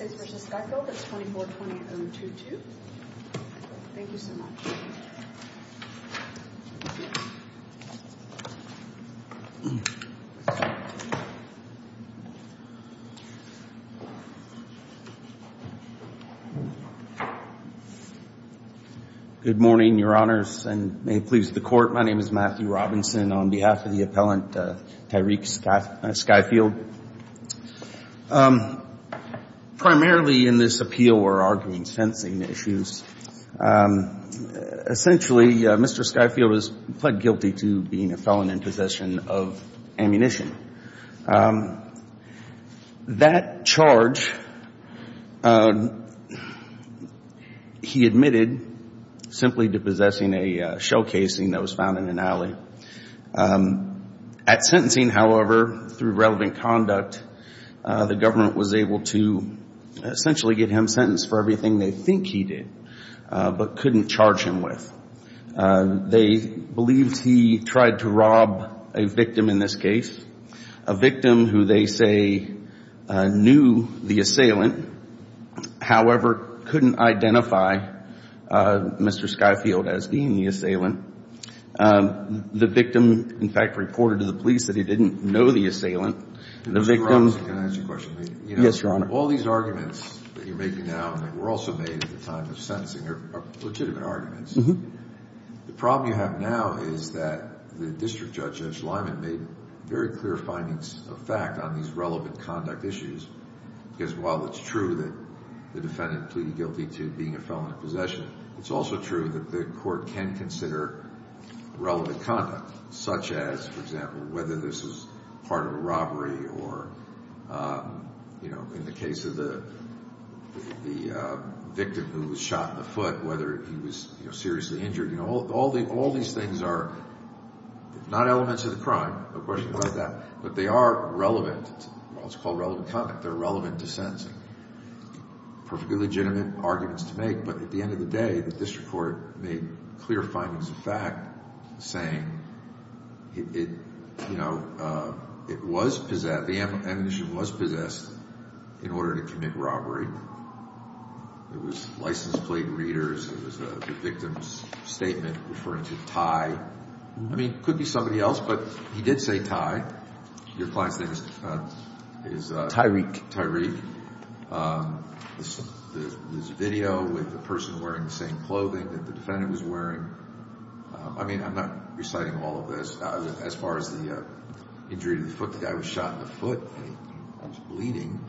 is 2420-022. Thank you so much. Good morning, Your Honors, and may it please the Court, my name is Matthew Robinson on behalf of the appellant Tyreke Skyfield. Primarily in this appeal we're arguing sensing issues. Essentially, Mr. Skyfield has pled guilty to being a felon in possession of ammunition. That charge he admitted simply to possessing a shell casing that was found in an alley. At sentencing, however, through relevant conduct, the government was able to essentially get him sentenced for everything they think he did, but couldn't charge him with. They believed he tried to rob a victim in this case, a victim who they say knew the assailant, however, couldn't identify Mr. Skyfield as being the assailant. The victim, in fact, reported to the police that he didn't know the assailant. Mr. Robinson, can I ask you a question, please? Yes, Your Honor. Of all these arguments that you're making now, and that were also made at the time of sentencing, are legitimate arguments, the problem you have now is that the district judge, Judge Lyman, made very clear findings of fact on these relevant conduct issues, because while it's true that the defendant pleaded guilty to being a felon in possession, it's also true that the court can consider relevant conduct, such as, for example, whether this was part of a robbery, or in the case of the victim who was shot in the foot, whether he was seriously injured. All these things are not elements of the crime, no question about that, but they are relevant, it's called relevant conduct, they're relevant to sentencing. Perfectly legitimate arguments to make, but at the end of the day, the district court made clear findings of fact, saying, you know, it was possessed, the ammunition was possessed in order to commit robbery. It was license Could be somebody else, but he did say Ty. Your client's name is Tyreke. Tyreke. There's a video with a person wearing the same clothing that the defendant was wearing. I mean, I'm not reciting all of this. As far as the injury to the foot, the guy was shot in the foot, he was bleeding.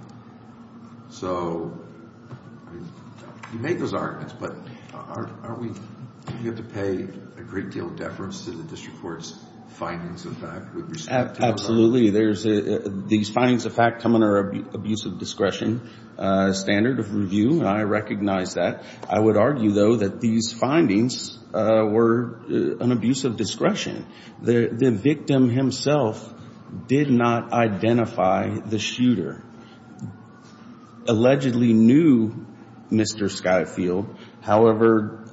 So, you make those arguments, but aren't we going to have to pay a great deal of deference to the district court's findings of fact? Absolutely. These findings of fact come under an abuse of discretion standard of review, and I recognize that. I would argue, though, that these findings were an abuse of discretion. The victim himself did not identify the shooter. Allegedly knew Mr. Skyfield. However,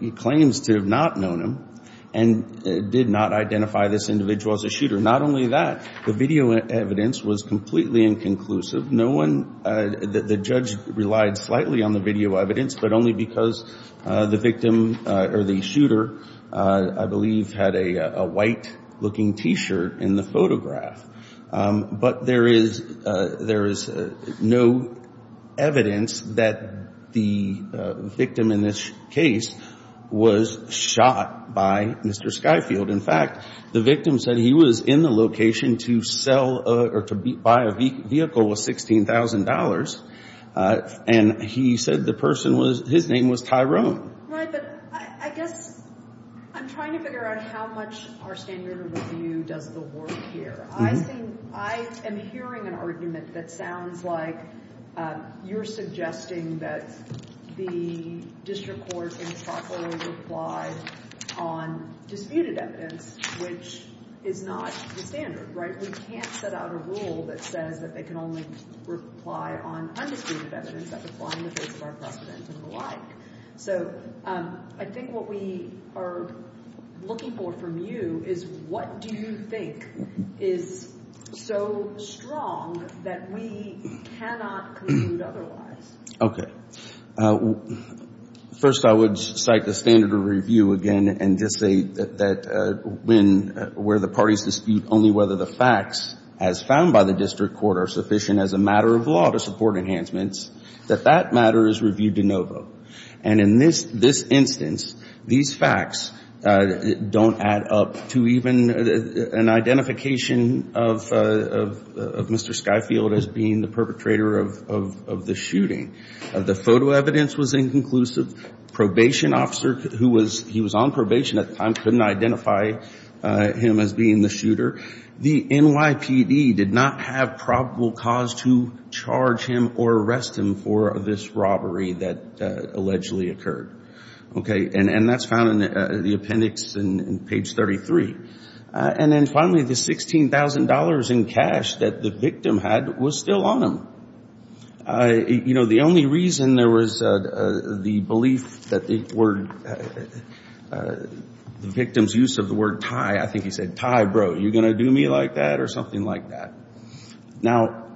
he claims to have not known him and did not identify this individual as a shooter. Not only that, the video evidence was completely inconclusive. No one, the judge relied slightly on the video evidence, but only because the victim or the shooter, I believe, had a white-looking T-shirt in the photograph. But there is no evidence that the victim in this case was shot by Mr. Skyfield. In fact, the victim said he was in the location to sell or to buy a vehicle worth $16,000, and he said the person was, his name was Tyrone. Right, but I guess I'm trying to figure out how much our standard of review does the work here. I think, I am hearing an argument that sounds like you're suggesting that the district court can properly reply on disputed evidence, which is not the standard, right? We can't set out a rule that says that they can only reply on undisputed evidence that's applying in the face of our precedent and the like. So I think what we are looking for from you is what do you think is so strong that we cannot conclude otherwise? Okay. First, I would cite the standard of review again and just say that when, where the parties dispute only whether the facts as found by the district court are sufficient as a matter of law to support enhancements, that that matter is reviewed de novo. And in this instance, these facts don't add up to even an identification of Mr. Skyfield as being the perpetrator of the shooting. The photo evidence was inconclusive. Probation officer who was on probation at the time couldn't identify him as being the shooter. The NYPD did not have probable cause to charge him or arrest him for this robbery that allegedly occurred. Okay. And that's found in the appendix in page 33. And then finally, the $16,000 in cash that the victim had was still on him. You know, the only reason there was the belief that the word, the victim's use of the word Ty, I think he said, Ty, bro, you going to do me like that or something like that? Now,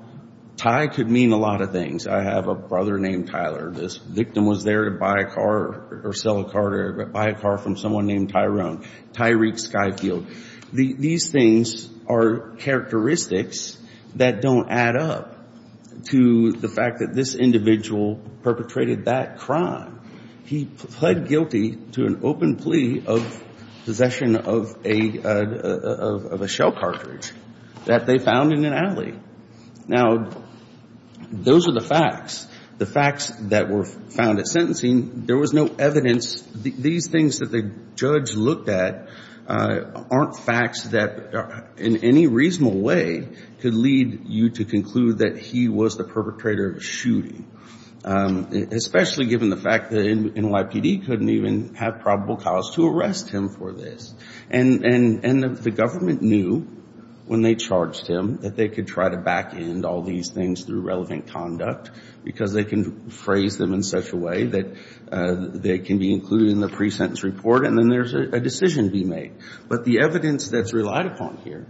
Ty could mean a lot of things. I have a brother named Tyler. This victim was there to buy a car or sell a car or buy a car from someone named Tyrone, Tyreek Skyfield. These things are characteristics that don't add up to the fact that this individual perpetrated that crime. He pled guilty to an open plea of possession of a shell cartridge that they found in an alley. Now, those are the facts. The facts that were found at sentencing, there was no evidence. These things that the judge looked at aren't facts that in any reasonable way could lead you to conclude that he was the perpetrator of a shooting, especially given the fact that NYPD couldn't even have probable cause to arrest him for this. And the government knew when they charged him that they could try to back end all these things through relevant conduct because they can rephrase them in such a way that they can be included in the pre-sentence report and then there's a decision to be made. But the evidence that's relied upon here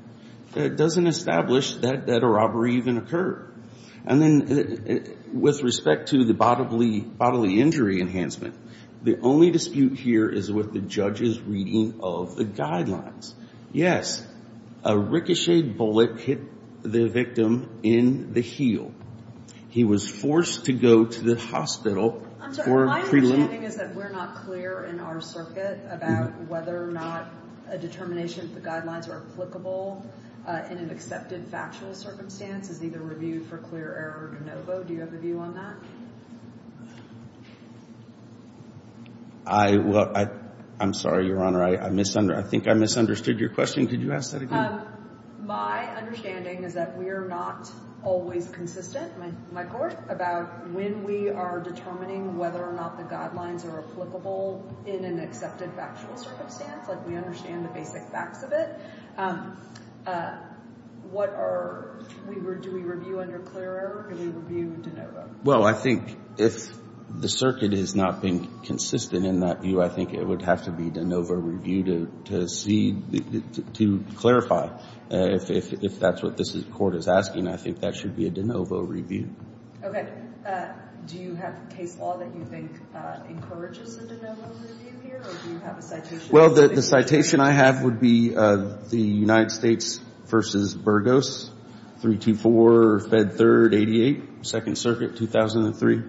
doesn't establish that a robbery even occurred. And then with respect to the bodily injury enhancement, the only dispute here is with the judge's reading of the guidelines. Yes, a ricocheted bullet hit the victim in the heel. He was forced to go to the hospital for preliminary... My understanding is that we're not clear in our circuit about whether or not a determination of the guidelines are applicable in an accepted factual circumstance is either reviewed for clear error or de novo. Do you have a view on that? I'm sorry, Your Honor. I think I misunderstood your question. Could you ask that again? My understanding is that we are not always consistent, my court, about when we are determining whether or not the guidelines are applicable in an accepted factual circumstance. We understand the basic facts of it. Do we review under clear error or do we review de novo? Well, I think if the circuit is not being consistent in that view, I think it would have to be de novo review to see, to clarify. If that's what this court is asking, I think that should be a de novo review. Okay. Do you have case law that you think encourages a de novo review here or do you have a citation? Well, the citation I have would be the United States v. Burgos, 324 Fed 3rd 88, 2nd Circuit, 2003.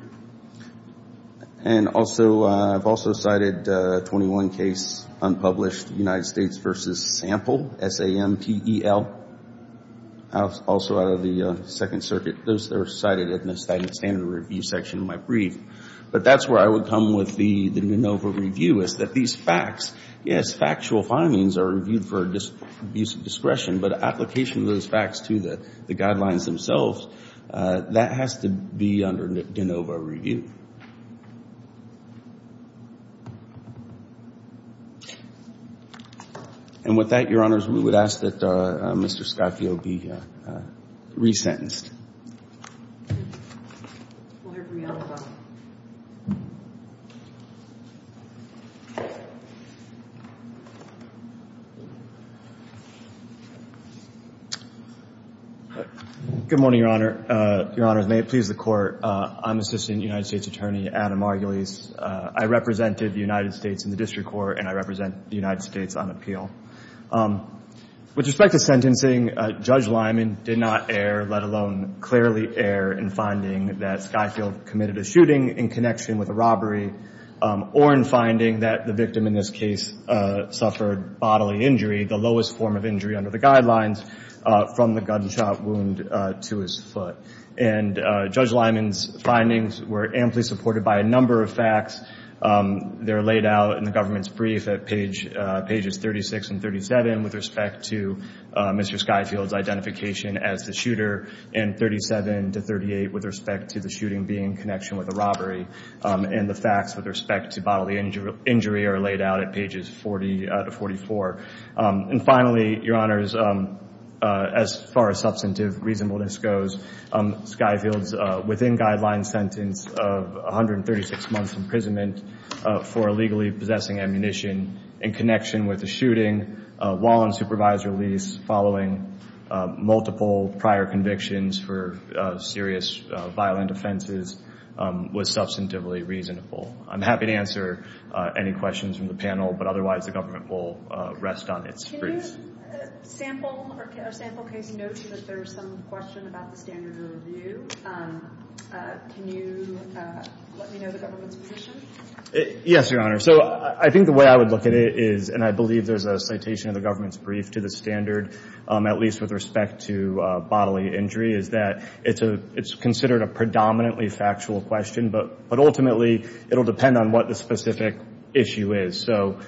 And also, I've also cited 21 case unpublished United States v. Sample, S-A-M-P-E-L, also out of the 2nd Circuit. Those are cited in the standard review section of my brief. But that's where I would come with the de novo review is that these facts, yes, factual findings are reviewed for abuse of discretion, but application of those facts to the guidelines themselves, that has to be under de novo review. And with that, Your Honors, we would ask that Mr. Scafio be resentenced. Good morning, Your Honor. Your Honor, may it please the Court. I'm Assistant United States Attorney Adam Margulies. I represented the United States in the district court and I represent the United States on appeal. With respect to sentencing, Judge Lyman did not err, let alone clearly err, in finding that Scafio committed a shooting in connection with a robbery or in finding that the victim in this case suffered bodily injury, the lowest form of injury under the guidelines, from the gunshot wound to his foot. And Judge Lyman's findings were amply supported by a number of facts. They're laid out in the government's brief at pages 36 and 37 with respect to Mr. Scafio's identification as the shooter, and 37 to 38 with respect to the shooting being in connection with a robbery. And the facts with respect to bodily injury are laid out at pages 40 to 44. And finally, Your Honors, as far as substantive reasonableness goes, Scafio's within-guidelines sentence of 136 months imprisonment for illegally possessing ammunition in connection with a shooting while on supervisory lease following multiple prior convictions for serious violent offenses was substantively reasonable. I'm happy to answer any questions from the panel, but otherwise the government will rest on its feet. Can you sample, or sample case, note that there's some question about the standard of review? Can you let me know the government's position? Yes, Your Honor. So I think the way I would look at it is, and I believe there's a citation in the government's brief to the standard, at least with respect to bodily injury, is that it's considered a predominantly factual question, but ultimately it'll depend on what the specific issue is. So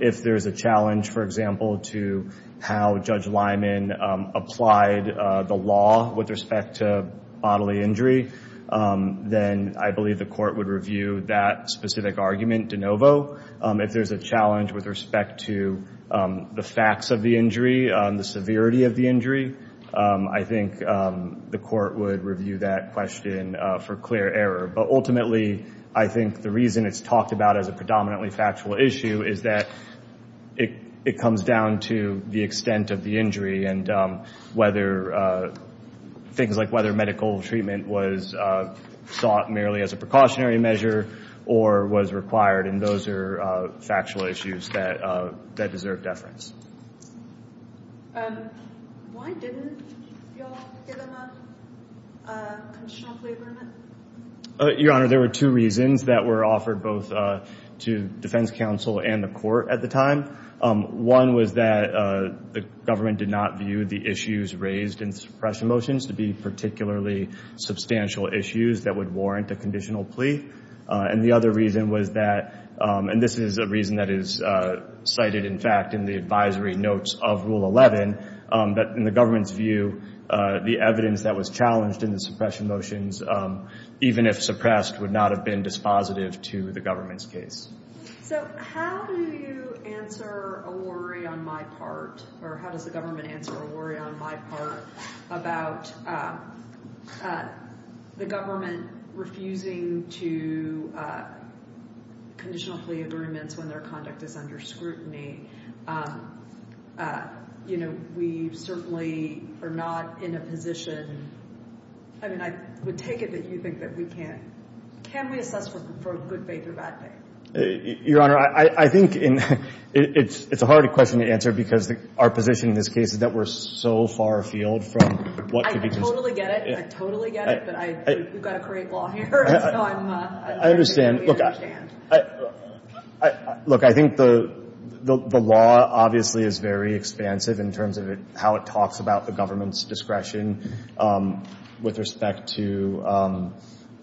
if there's a challenge, for example, to how Judge Lyman applied the law with respect to bodily injury, then I believe the court would review that specific argument de novo. If there's a challenge with respect to the facts of the injury, the severity of the injury, I think the court would review that question for clear error. But ultimately I think the reason it's talked about as a predominantly factual issue is that it comes down to the extent of the injury and whether things like whether medical treatment was sought merely as a precautionary measure or was required, and those are factual issues that deserve deference. Why didn't you all give him a conditional plea agreement? Your Honor, there were two reasons that were offered both to defense counsel and the court at the time. One was that the government did not view the issues raised in suppression motions to be particularly substantial issues that would warrant a conditional plea, and the other reason was that, and this is a reason that is cited in fact in the advisory notes of Rule 11, that in the government's view the evidence that was challenged in the suppression motions, even if suppressed, would not have been dispositive to the government's case. So how do you answer a worry on my part, or how does the government answer a worry on my part, about the government refusing to conditional plea agreements when their conduct is under scrutiny? We certainly are not in a position, I mean I would take it that you think that we can't, can we assess for good faith or bad faith? Your Honor, I think it's a hard question to answer because our position in this case is that we're so far afield from what could be considered... I totally get it, I totally get it, but we've got to create law here. Look, I think the law obviously is very expansive in terms of how it talks about the government's discretion with respect to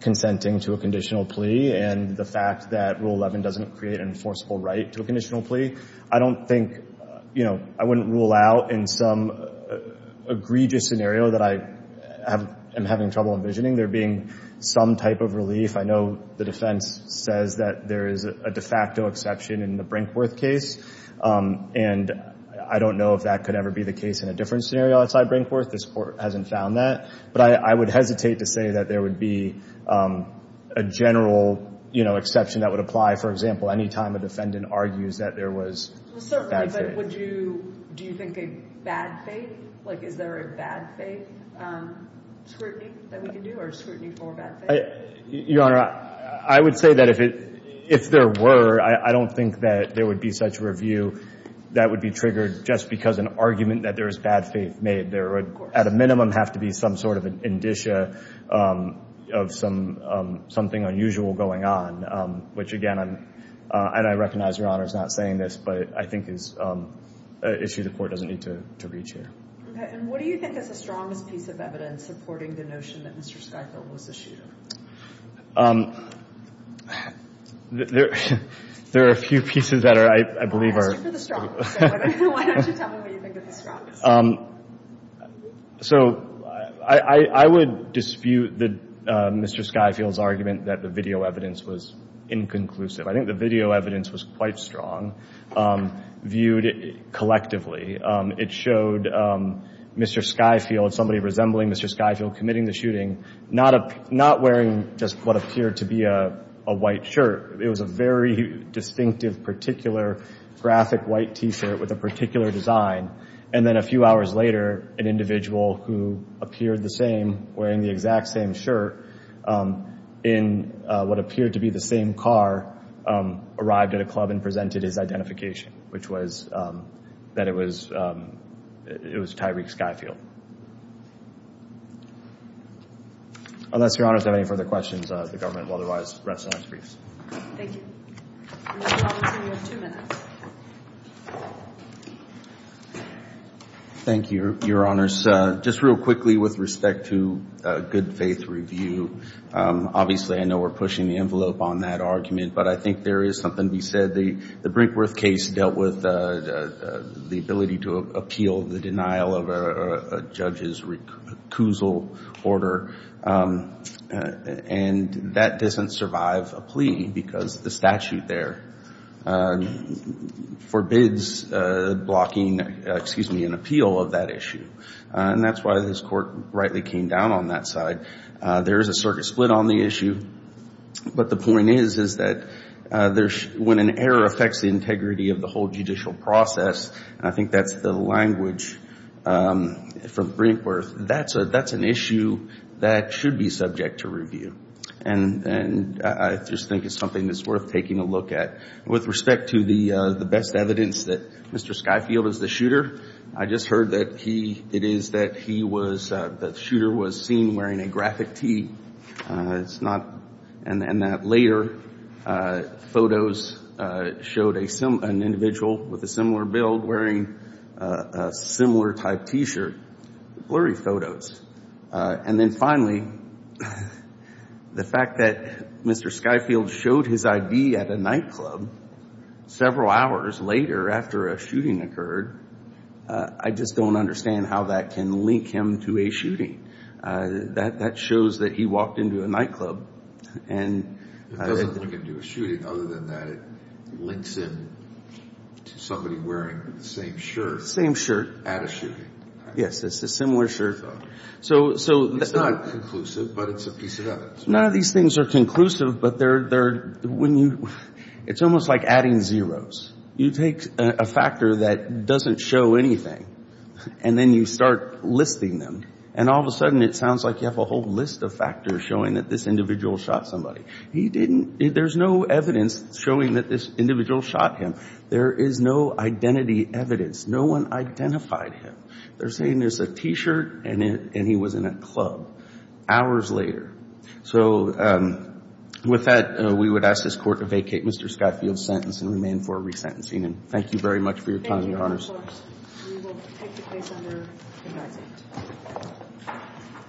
consenting to a conditional plea and the fact that Rule 11 doesn't create an enforceable right to a conditional plea. I don't think, you know, I wouldn't rule out in some egregious scenario that I am having trouble envisioning there being some type of relief. I know the defense says that there is a de facto exception in the Brinkworth case, and I don't know if that could ever be the case in a different scenario outside Brinkworth. This Court hasn't found that, but I would hesitate to say that there would be a general exception that would apply, for example, any time a defendant argues that there was bad faith. Certainly, but do you think a bad faith, like is there a bad faith scrutiny that we can do or scrutiny for bad faith? Your Honor, I would say that if there were, I don't think that there would be such a review that would be triggered just because an argument that there was bad faith made. There would, at a minimum, have to be some sort of an indicia of something unusual going on, which again, and I recognize Your Honor is not saying this, but I think is an issue the Court doesn't need to reach here. Okay, and what do you think is the strongest piece of evidence supporting the notion that Mr. Skyfield was a shooter? There are a few pieces that I believe are... So I would dispute Mr. Skyfield's argument that the video evidence was inconclusive. I think the video evidence was quite strong, viewed collectively. It showed Mr. Skyfield, somebody resembling Mr. Skyfield committing the shooting, not wearing just what appeared to be a white shirt. It was a very distinctive, particular graphic white T-shirt with a particular design. And then a few hours later, an individual who appeared the same wearing the exact same shirt in what appeared to be the same car arrived at a club and presented his identification, which was that it was Tyreek Skyfield. Unless Your Honors have any further questions, the government will otherwise rest on its briefs. Thank you, Your Honors. Just real quickly with respect to good faith review, obviously I know we're pushing the envelope on that argument, but I think there is something to be said. The Brinkworth case dealt with the ability to appeal the denial of a judge's recusal order, and that doesn't survive a plea because the statute there forbids blocking, excuse me, an appeal of that issue. And that's why this Court rightly came down on that side. There is a circuit split on the issue, but the point is, is that when an error affects the integrity of the whole judicial process, and I think that's the language from Brinkworth, that's an issue that should be subject to review. And I just think it's something that's worth taking a look at. With respect to the best evidence that Mr. Skyfield is the shooter, I just heard that he, it is that he was, that the shooter was seen wearing a graphic tee. And that later photos showed an individual with a similar build wearing a similar type T-shirt. Blurry photos. And then finally, the fact that Mr. Skyfield showed his ID at a nightclub, several hours later after a shooting occurred, I just don't understand how that can link him to a shooting. That shows that he walked into a nightclub. It doesn't link him to a shooting, other than that it links him to somebody wearing the same shirt. Same shirt. At a shooting. Yes, it's a similar shirt. None of these things are conclusive, but they're, when you, it's almost like adding zeros. You take a factor that doesn't show anything, and then you start listing them, and all of a sudden it sounds like you have a whole list of factors showing that this individual shot somebody. He didn't, there's no evidence showing that this individual shot him. There is no identity evidence. No one identified him. They're saying it's a T-shirt and he was in a club hours later. So with that, we would ask this Court to vacate Mr. Skyfield's sentence and remain for resentencing. Thank you very much for your time, Your Honors. Thank you, Your Honors.